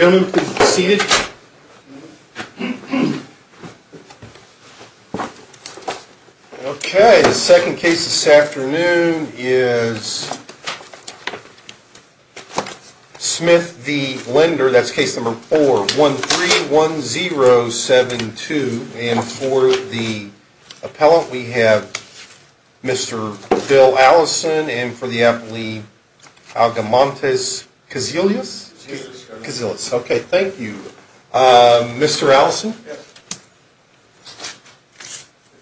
Okay, the second case this afternoon is Smith v. Linder, that's case number 4, 131072. And for the appellant, we have Mr. Bill Allison, and for the applant, we have Algamontes Cazillas. Okay, thank you. Mr. Allison? Yes. If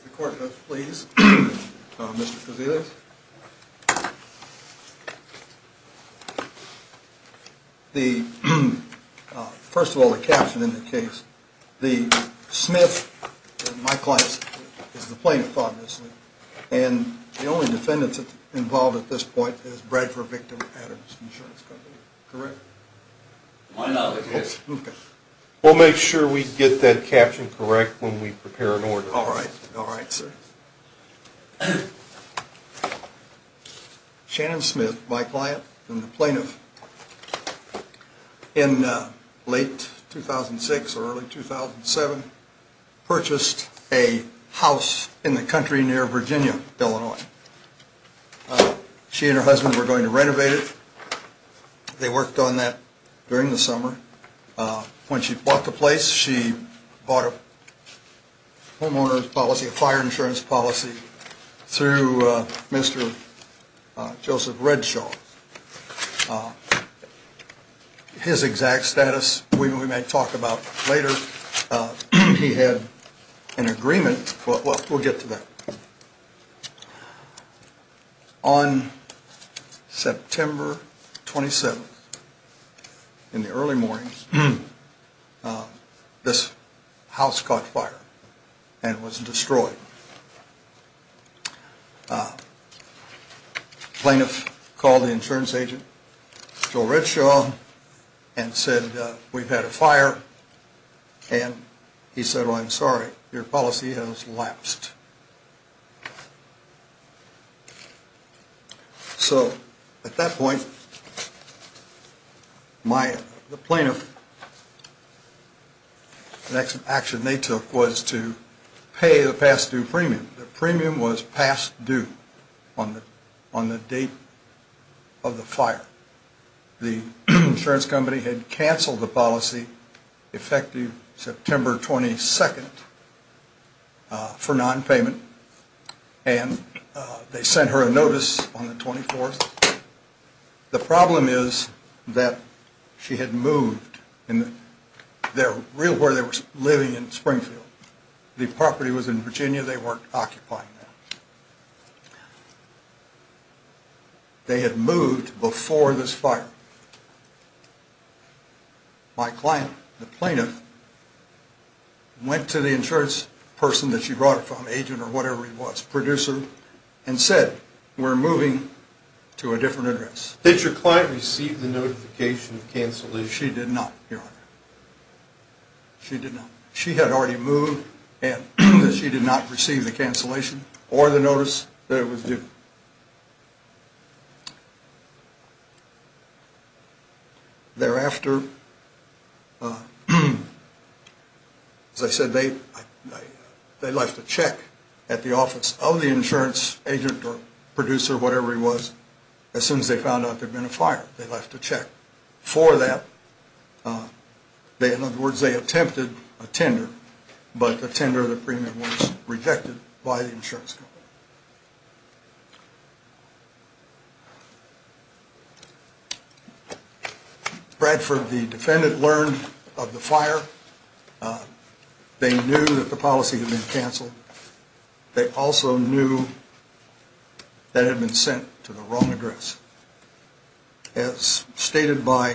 the court would please, Mr. Cazillas. The, first of all, the caption in the case, the Smith, my client, is the plaintiff, obviously. And the only defendants involved at this point is Bradford victim, Adams Insurance Company. Correct? Why not? Yes. Okay. We'll make sure we get that caption correct when we prepare an order. All right. All right, sir. Shannon Smith, my client, and the plaintiff, in late 2006 or early 2007, purchased a house in the country near Virginia, Illinois. She and her husband were going to renovate it. They worked on that during the summer. When she bought the place, she bought a homeowner's policy, a fire insurance policy, through Mr. Joseph Redshaw. His exact status, we may talk about later. He had an agreement, but we'll get to that. On September 27th, in the early mornings, this house caught fire and was destroyed. Plaintiff called the insurance agent, Joe Redshaw, and said, we've had a fire. And he said, oh, I'm sorry, your policy has lapsed. So at that point, the plaintiff, the next action they took was to pay the past due premium. The premium was past due on the date of the fire. The insurance company had canceled the policy, effective September 22nd, for nonpayment. And they sent her a notice on the 24th. The problem is that she had moved. They were living in Springfield. The property was in Virginia. They weren't occupying that. They had moved before this fire. My client, the plaintiff, went to the insurance person that she brought it from, agent or whatever he was, producer, and said, we're moving to a different address. Did your client receive the notification of cancellation? She did not, Your Honor. She did not. She had already moved, and she did not receive the cancellation or the notice that it was due. Thereafter, as I said, they left a check at the office of the insurance agent or producer or whatever he was. As soon as they found out there had been a fire, they left a check for that. In other words, they attempted a tender, but the tender, the premium, was rejected by the insurance company. Bradford, the defendant, learned of the fire. They knew that the policy had been canceled. They also knew that it had been sent to the wrong address. As stated by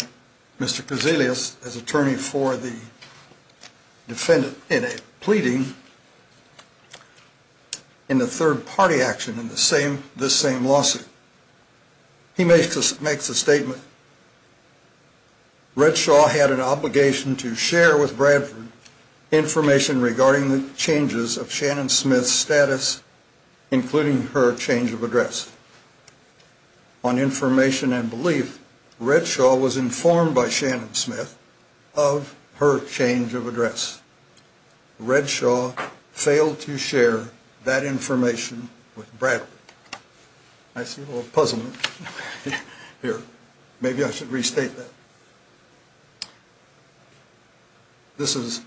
Mr. Kozelius as attorney for the defendant in a pleading in the third-party action in this same lawsuit, he makes the statement, Redshaw had an obligation to share with Bradford information regarding the changes of Shannon Smith's status, including her change of address. On information and belief, Redshaw was informed by Shannon Smith of her change of address. Redshaw failed to share that information with Bradford. I see a little puzzlement here. Maybe I should restate that. This is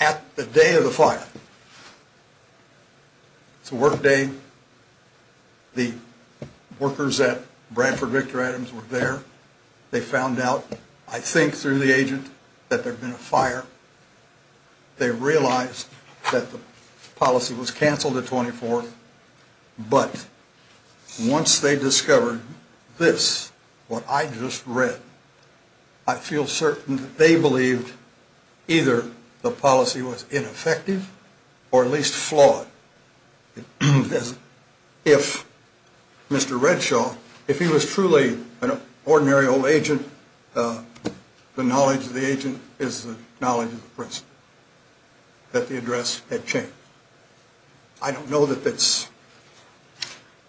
at the day of the fire. It's a work day. The workers at Bradford Victor Adams were there. They found out, I think through the agent, that there had been a fire. They realized that the policy was canceled the 24th, but once they discovered this, what I just read, I feel certain that they believed either the policy was ineffective or at least flawed. If Mr. Redshaw, if he was truly an ordinary old agent, the knowledge of the agent is the knowledge of the person, that the address had changed. I don't know that that's,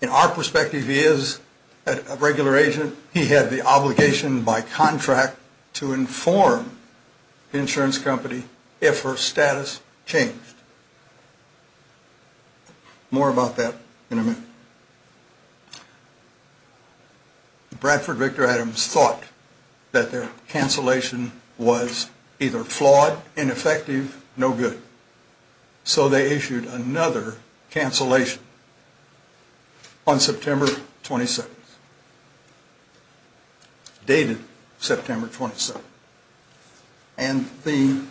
in our perspective, he is a regular agent. He had the obligation by contract to inform the insurance company if her status changed. More about that in a minute. Bradford Victor Adams thought that their cancellation was either flawed, ineffective, no good. So they issued another cancellation on September 22nd. Dated September 27th. And the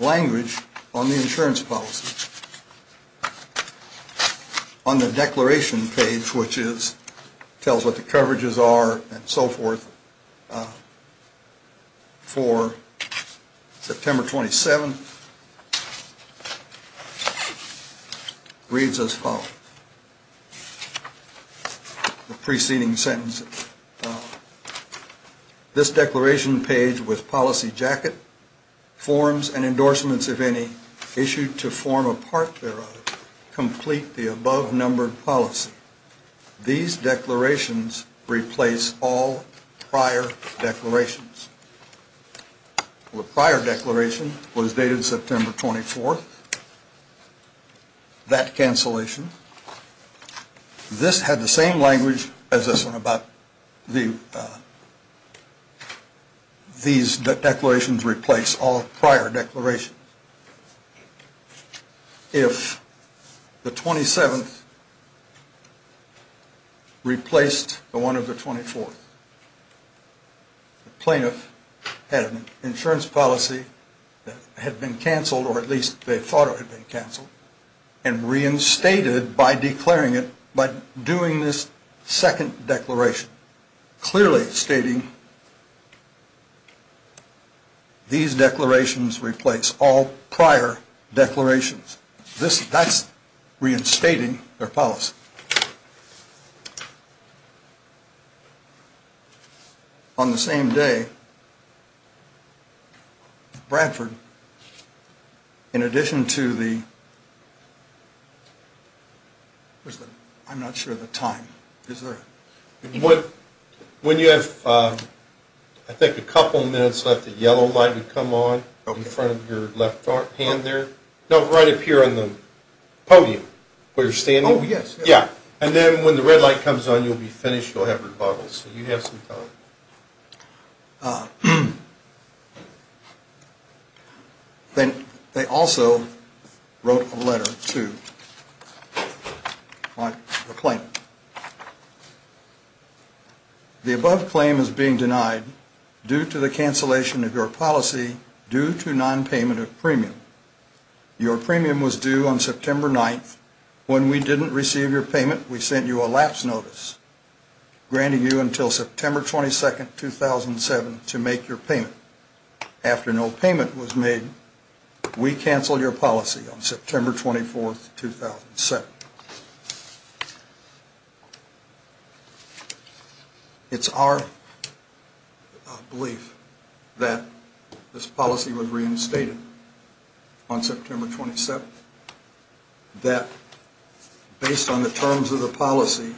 language on the insurance policy on the declaration page, which tells what the coverages are and so forth, for September 27th, is as follows, the preceding sentence. This declaration page with policy jacket, forms and endorsements, if any, issued to form a part thereof, complete the above numbered policy. These declarations replace all prior declarations. The prior declaration was dated September 24th. That cancellation, this had the same language as this one about these declarations replace all prior declarations. If the 27th replaced the one of the 24th, the plaintiff had an insurance policy that had been canceled, or at least they thought it had been canceled, and reinstated by declaring it by doing this second declaration. Clearly stating these declarations replace all prior declarations. That's reinstating their policy. On the same day, Bradford, in addition to the, I'm not sure of the time. When you have I think a couple minutes left, the yellow light would come on in front of your left hand there. No, right up here on the podium where you're standing. They also wrote a letter to the plaintiff. The above claim is being denied due to the cancellation of your policy due to non-payment of premium. Your premium was due on September 9th. When we didn't receive your payment, we sent you a lapse notice, granting you until September 22nd, 2007 to make your payment. After no payment was made, we canceled your policy on September 24th, 2007. It's our belief that this policy was reinstated on September 27th, that based on the terms of the policy,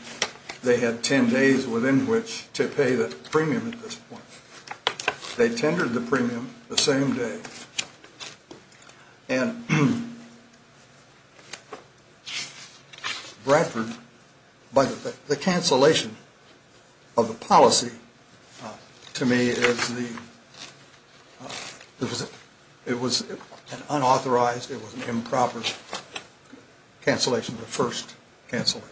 they had 10 days within which to pay the premium at this point. They tendered the premium the same day and Bradford, the cancellation of the policy to me, it was an unauthorized, it was an improper cancellation, the first cancellation.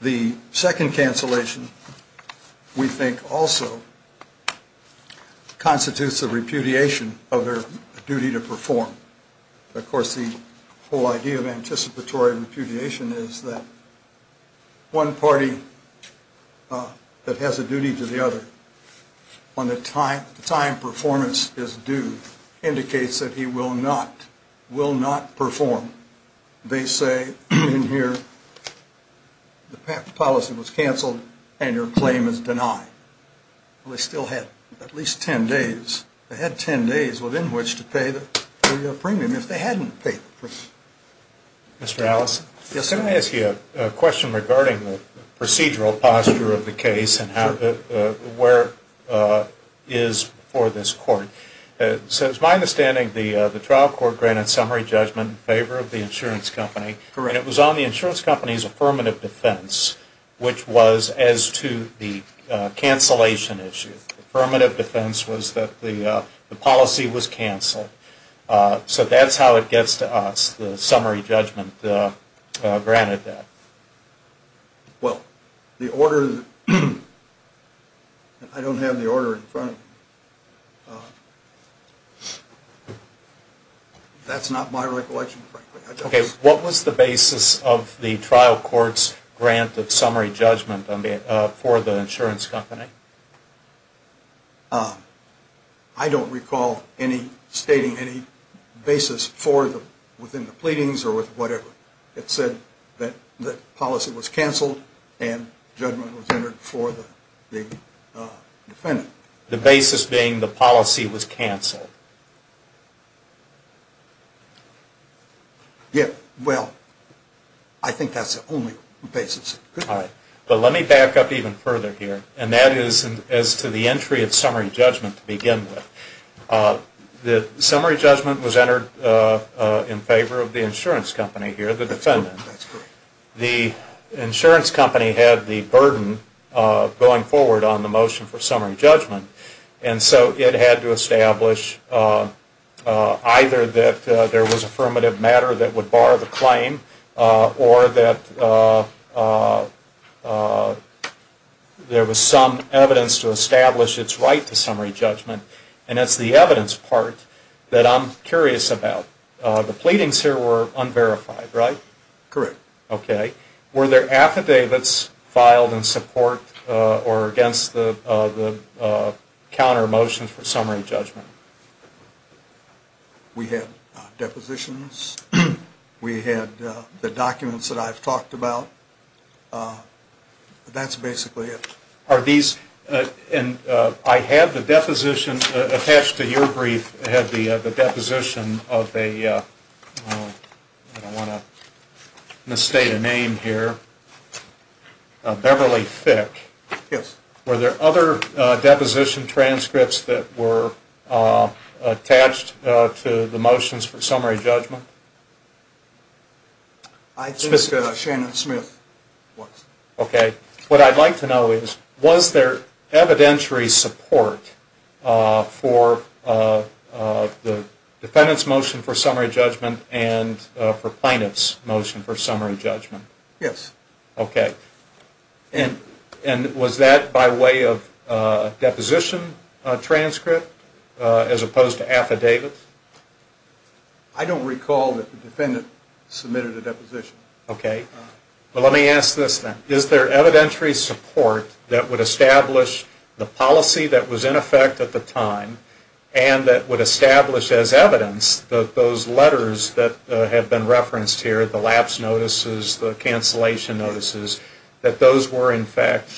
The second cancellation we think also constitutes a repudiation of their duty to perform. Of course, the whole idea of anticipatory repudiation is that one party that has a duty to the other on the time performance is due indicates that he will not perform. They say in here the policy was canceled and your claim is denied. They still had at least 10 days. They had 10 days within which to pay the premium if they hadn't paid the premium. Can I ask you a question regarding the procedural posture of the case and where it is for this court? It's my understanding the trial court granted summary judgment in favor of the insurance company and it was on the insurance company's affirmative defense, which was as to the cancellation issue. Affirmative defense was that the policy was canceled. So that's how it gets to us, the summary judgment granted that. I don't have the order in front of me. That's not my recollection. What was the basis of the trial court's grant of summary judgment for the insurance company? I don't recall stating any basis within the pleadings or whatever. It said that the policy was canceled and judgment was entered for the defendant. Well, I think that's the only basis. Let me back up even further here and that is as to the entry of summary judgment to begin with. The summary judgment was entered in favor of the insurance company here, the defendant. The insurance company had the burden of going forward on the motion for summary judgment and so it had to establish either that there was affirmative matter that would bar the claim or that there was some evidence to establish its right to summary judgment and that's the evidence part that I'm curious about. The pleadings here were unverified, right? Correct. Were there affidavits filed in support or against the counter motions for summary judgment? We had depositions. We had the documents that I've talked about. That's basically it. I had the deposition attached to your brief. I don't want to misstate a name here. Beverly Thick. Were there other deposition transcripts that were attached to the motions for summary judgment? I think Shannon Smith was. What I'd like to know is was there evidentiary support for the defendant's motion for summary judgment and for plaintiff's motion for summary judgment? Was that by way of deposition transcript as opposed to affidavits? I don't recall that the defendant submitted a deposition. Let me ask this then. Is there evidentiary support that would establish the policy that was in effect at the time and that would establish as evidence that those letters that have been referenced here, the lapse notices, the cancellation notices, that those were in fact...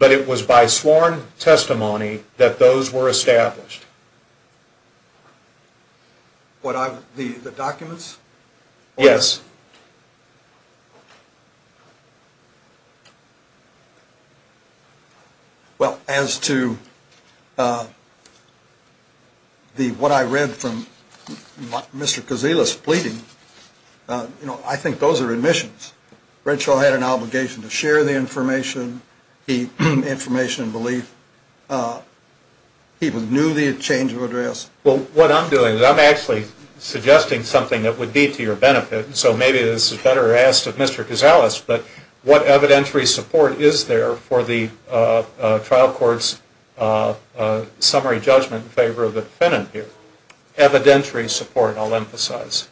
But it was by sworn testimony that those were established? The documents? Yes. Well, as to what I read from Mr. Kazeela's pleading, I think those are admissions. Redshaw had an obligation to share the information, the information and belief. He knew the change of address. Well, what I'm doing is I'm actually suggesting something that would be to your benefit. So maybe this is better asked of Mr. Kazeela's. But what evidentiary support is there for the trial court's summary judgment in favor of the defendant here? Evidentiary support, I'll emphasize.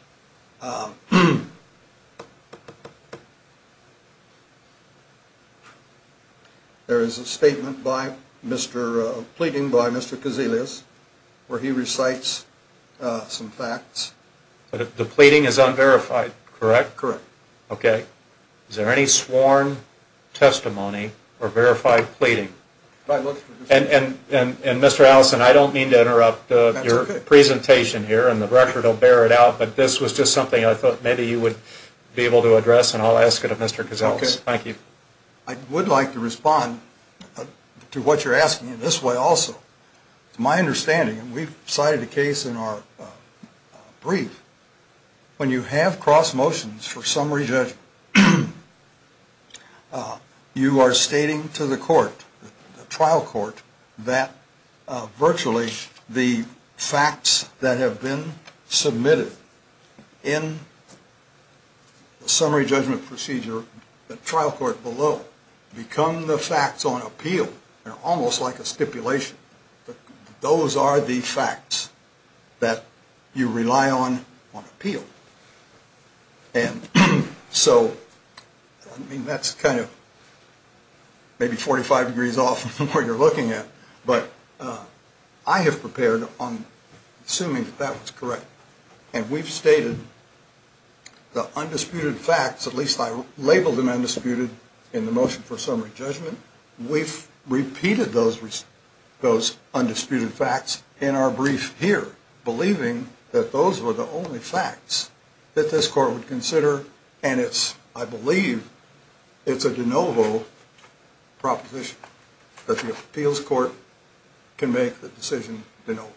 There is a statement by Mr. Kazeela's where he recites some facts. The pleading is unverified, correct? Is there any sworn testimony or verified pleading? And Mr. Allison, I don't mean to interrupt your presentation here and the record will bear it out, but this was just something I thought maybe you would be able to address and I'll ask it of Mr. Kazeela's. I would like to respond to what you're asking in this way also. It's my understanding, and we've cited a case in our brief, when you have cross motions for summary judgment, you are stating to the court, the trial court, that virtually the facts that have been submitted in the summary judgment procedure, the trial court below, become the facts on appeal, almost like a stipulation. Those are the facts that you rely on on appeal. And so that's kind of maybe 45 degrees off from where you're looking at, but I have prepared, assuming that that was correct, and we've stated the undisputed facts, at least I labeled them undisputed in the motion for summary judgment, we've repeated those undisputed facts in our brief here, believing that those were the only facts that this court would consider, and I believe it's a de novo proposition that the appeals court can make the decision de novo.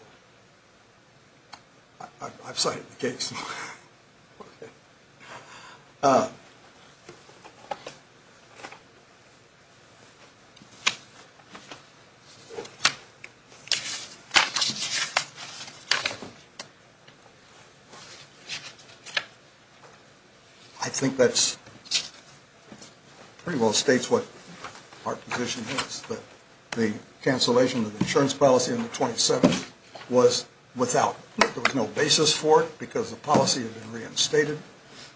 I've cited the case. I think that pretty well states what our position is, that the cancellation of the insurance policy in the 27th was without, there was no basis for it because the policy had been reinstated,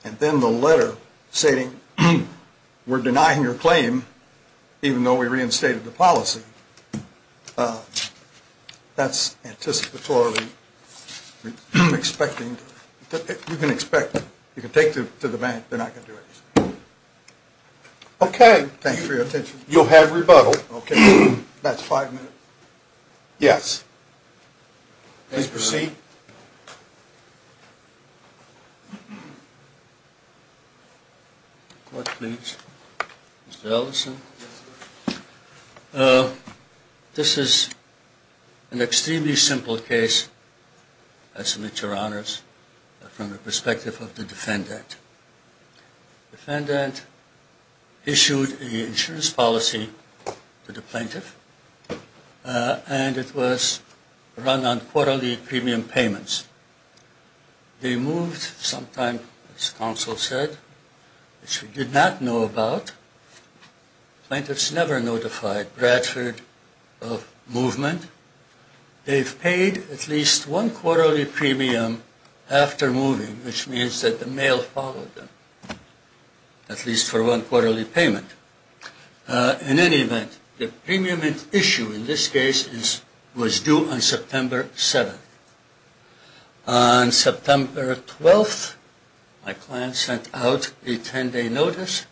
and then the letter stating we're denying your claim even though we reinstated the policy, that's anticipatorily expecting, you can expect, you can take to the bank, they're not going to do anything. Okay, thank you for your attention. You'll have rebuttal. Please proceed. This is an extremely simple case, I submit your honors, from the perspective of the defendant. The defendant issued an insurance policy to the plaintiff, and it was run on quarterly premium payments. They moved sometime, as counsel said, which we did not know about. Plaintiffs never notified Bradford of movement. They've paid at least one quarterly premium after moving, which means that the mail followed them, at least for one quarterly payment. In any event, the premium issue in this case was due on September 7th. On September 12th, my client sent out a 10-day notice,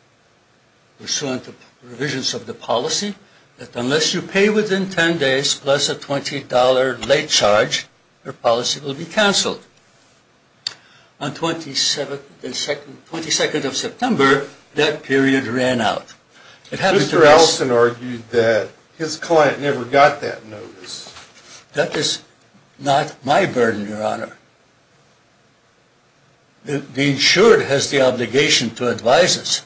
pursuant to provisions of the policy, that unless you pay within 10 days plus a $20 late charge, your policy will be canceled. On 22nd of September, that period ran out. Mr. Allison argued that his client never got that notice. That is not my burden, your honor. The insured has the obligation to advise us.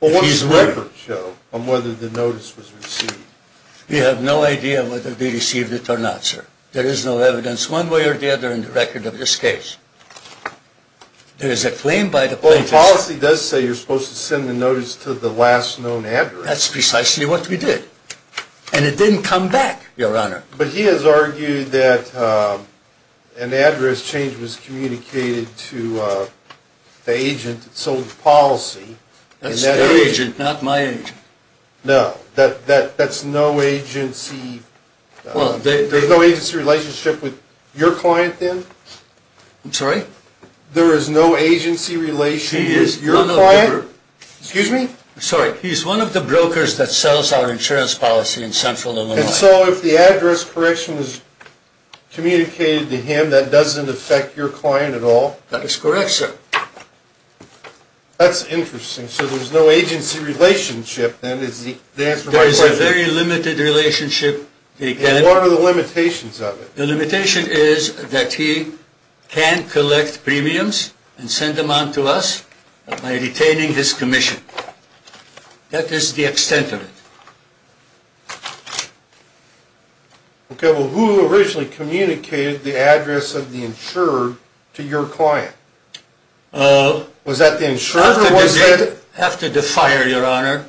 We have no idea whether they received it or not, sir. There is no evidence one way or the other in the record of this case. There is a claim by the plaintiffs... Well, the policy does say you're supposed to send the notice to the last known address. That's precisely what we did. And it didn't come back, your honor. But he has argued that an address change was communicated to the agent that sold the policy. That's the agent, not my agent. No, that's no agency... There's no agency relationship with your client, then? I'm sorry? There is no agency relationship with your client? Excuse me? I'm sorry. He's one of the brokers that sells our insurance policy in Central Illinois. And so if the address correction was communicated to him, that doesn't affect your client at all? That is correct, sir. That's interesting. So there's no agency relationship, then, is the answer to my question? There is a very limited relationship. And what are the limitations of it? The limitation is that he can collect premiums and send them on to us by retaining his commission. That is the extent of it. Okay. Well, who originally communicated the address of the insurer to your client? Was that the insurer? I have to defy you, your honor.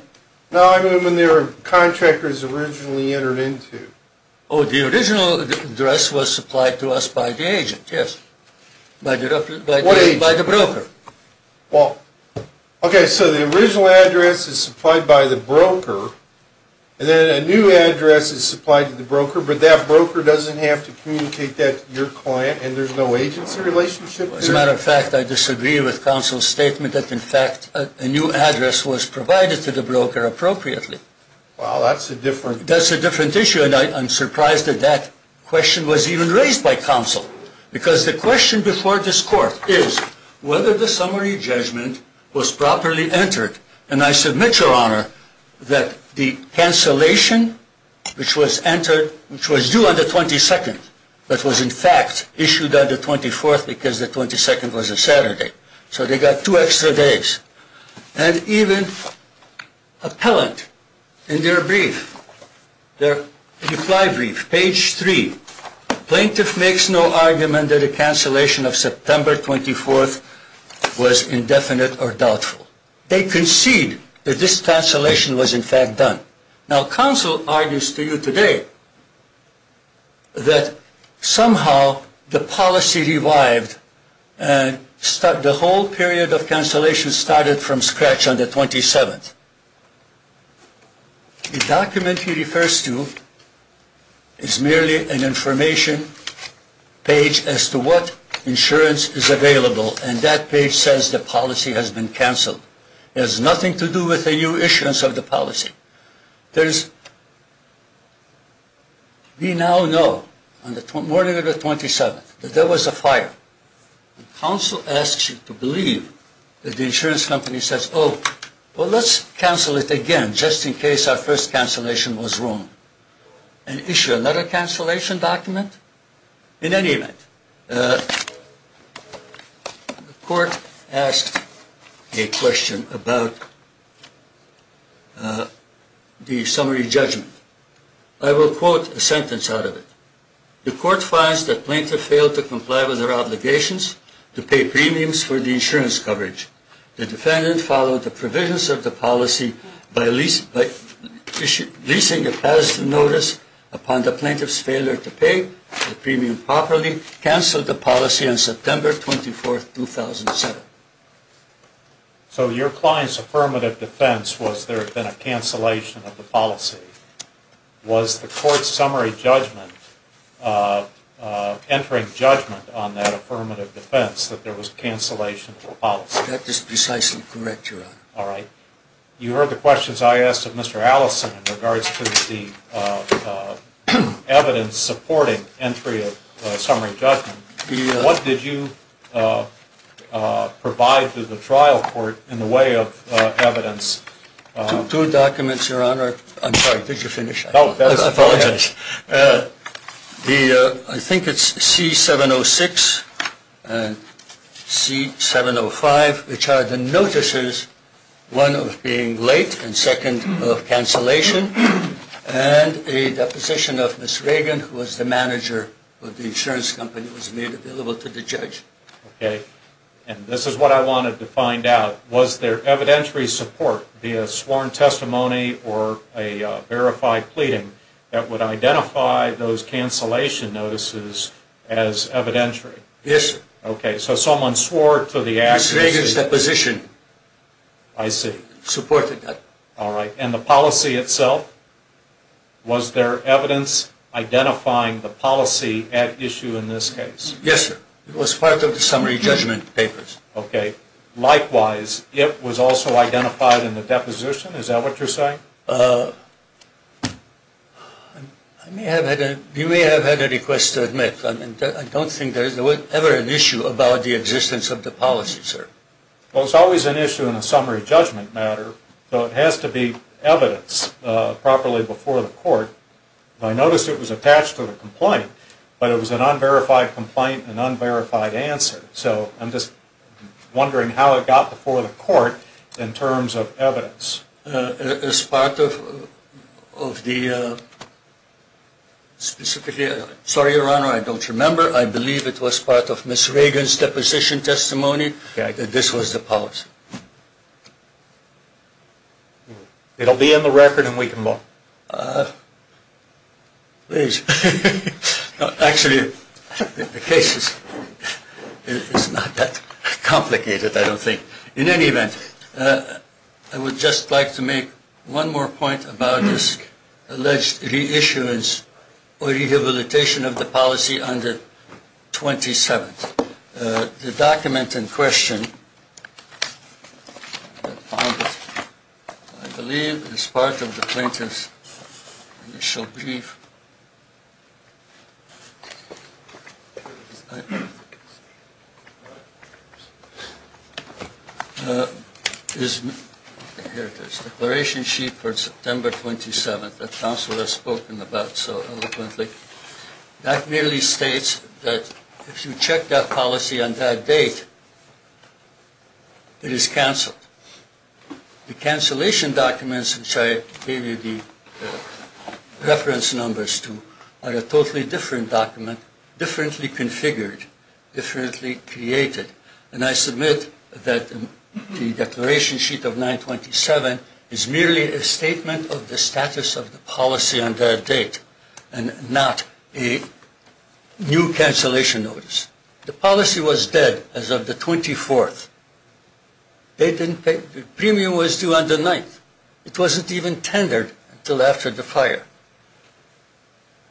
No, I mean when they were contractors originally entered into. Oh, the original address was supplied to us by the agent, yes. What agent? By the broker. Okay, so the original address is supplied by the broker, and then a new address is supplied to the broker, but that broker doesn't have to communicate that to your client, and there's no agency relationship there? As a matter of fact, I disagree with counsel's statement that, in fact, a new address was provided to the broker appropriately. Wow, that's a different. That's a different issue, and I'm surprised that that question was even raised by counsel, because the question before this court is whether the summary judgment was properly entered, and I submit, your honor, that the cancellation, which was entered, which was due on the 22nd, but was, in fact, issued on the 24th because the 22nd was a Saturday, so they got two extra days, and even appellant in their brief, their reply brief, page three, plaintiff makes no argument that a cancellation of September 24th was indefinite or doubtful. They concede that this cancellation was, in fact, done. Now, counsel argues to you today that somehow the policy revived, and the whole period of cancellation started from scratch on the 27th. The document he refers to is merely an information page as to what insurance is available, and that page says the policy has been canceled. It has nothing to do with a new issuance of the policy. We now know on the morning of the 27th that there was a fire, and counsel asks you to believe that the insurance company says, oh, well, let's cancel it again just in case our first cancellation was wrong, and issue another cancellation document. In any event, the court asked a question about the summary judgment. I will quote a sentence out of it. The court finds that plaintiff failed to comply with their obligations to pay premiums for the insurance coverage. The defendant followed the provisions of the policy by leasing a past notice upon the plaintiff's failure to pay the premium properly, canceled the policy on September 24th, 2007. So your client's affirmative defense was there had been a cancellation of the policy. Was the court's summary judgment, entering judgment on that affirmative defense that there was cancellation of the policy? That is precisely correct, Your Honor. All right. You heard the questions I asked of Mr. Allison in regards to the evidence supporting entry of summary judgment. What did you provide to the trial court in the way of evidence? Two documents, Your Honor. I'm sorry. Did you finish? I apologize. I think it's C706 and C705, which are the notices, one of being late and second of cancellation, and a deposition of Ms. Reagan, who was the manager of the insurance company, was made available to the judge. Okay. And this is what I wanted to find out. Was there evidentiary support via sworn testimony or a verified pleading that would identify those cancellation notices as evidentiary? Yes, sir. Okay. So someone swore to the accuracy. Ms. Reagan's deposition. I see. Supported that. All right. And the policy itself, was there evidence identifying the policy at issue in this case? Yes, sir. It was part of the summary judgment papers. Okay. And likewise, it was also identified in the deposition? Is that what you're saying? You may have had a request to admit. I don't think there was ever an issue about the existence of the policy, sir. Well, it's always an issue in a summary judgment matter, so it has to be evidence properly before the court. I noticed it was attached to the complaint, but it was an unverified complaint and unverified answer. So I'm just wondering how it got before the court in terms of evidence. As part of the specifically – sorry, Your Honor, I don't remember. I believe it was part of Ms. Reagan's deposition testimony that this was the policy. It will be in the record and we can look. Please. Actually, the case is not that complicated, I don't think. In any event, I would just like to make one more point about this alleged reissuance or rehabilitation of the policy on the 27th. The document in question, I believe, is part of the plaintiff's initial brief. Here it is, Declaration Sheet for September 27th, that counsel has spoken about so eloquently. That merely states that if you check that policy on that date, it is canceled. The cancellation documents, which I gave you the reference numbers to, are a totally different document, differently configured, differently created. And I submit that the Declaration Sheet of 927 is merely a statement of the status of the policy on that date. And not a new cancellation notice. The policy was dead as of the 24th. The premium was due on the 9th. It wasn't even tendered until after the fire.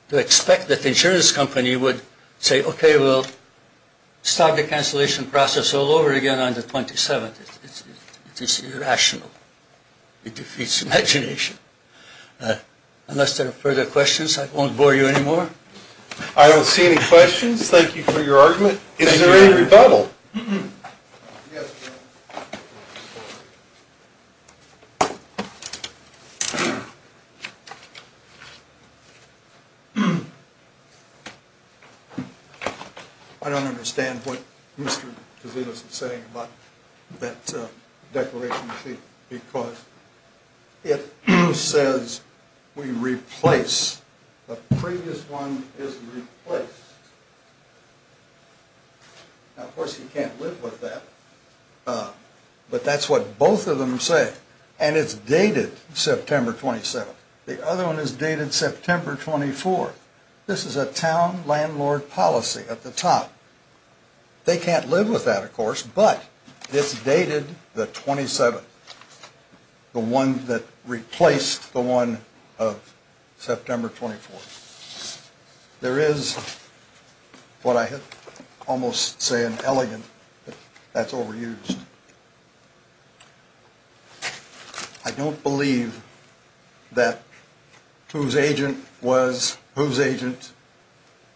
To expect that the insurance company would say, okay, we'll start the cancellation process all over again on the 27th, it's irrational. It defeats imagination. Unless there are further questions, I won't bore you anymore. I don't see any questions. Thank you for your argument. Is there any rebuttal? I don't understand what Mr. Casino is saying about that Declaration Sheet. Because it says we replace. The previous one is replaced. Now, of course, you can't live with that. But that's what both of them say. And it's dated September 27th. The other one is dated September 24th. This is a town landlord policy at the top. They can't live with that, of course. But it's dated the 27th. The one that replaced the one of September 24th. There is what I almost say an elegant, that's overused. I don't believe that whose agent was whose agent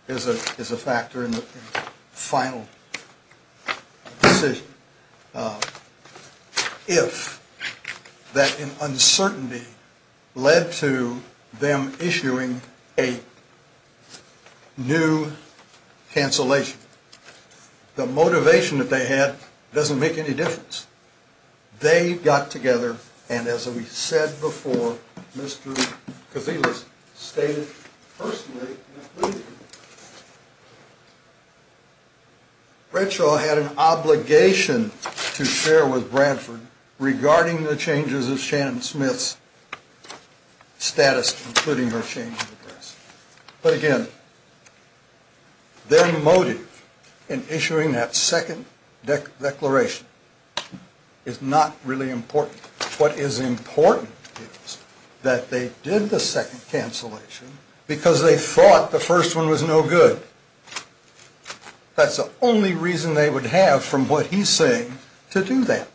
is a factor in the final decision. If that uncertainty led to them issuing a new cancellation. The motivation that they had doesn't make any difference. They got together. And as we said before, Mr. Casino stated personally. Bradshaw had an obligation to share with Bradford regarding the changes of Shannon Smith's status, including her change of address. But again, their motive in issuing that second declaration is not really important. What is important is that they did the second cancellation because they thought the first one was no good. That's the only reason they would have from what he's saying to do that.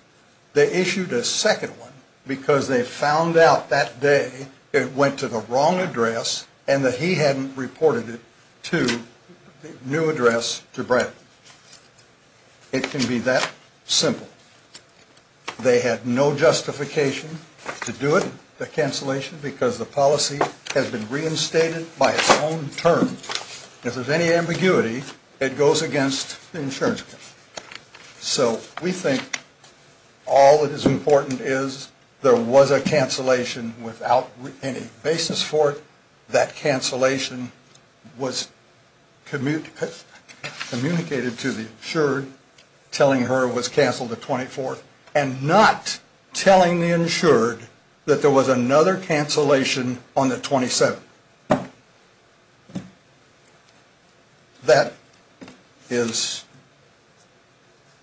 They issued a second one because they found out that day it went to the wrong address and that he hadn't reported it to the new address to Bradford. It can be that simple. They had no justification to do it, the cancellation, because the policy has been reinstated by its own terms. If there's any ambiguity, it goes against the insurance. So we think all that is important is there was a cancellation without any basis for it. That cancellation was communicated to the insured telling her it was canceled the 24th and not telling the insured that there was another cancellation on the 27th. That is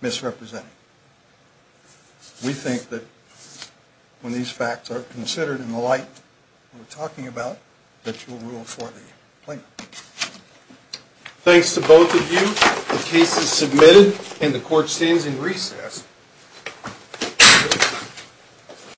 misrepresenting. We think that when these facts are considered in the light we're talking about, that you will rule for the plaintiff. Thanks to both of you. The case is submitted and the court stands in recess.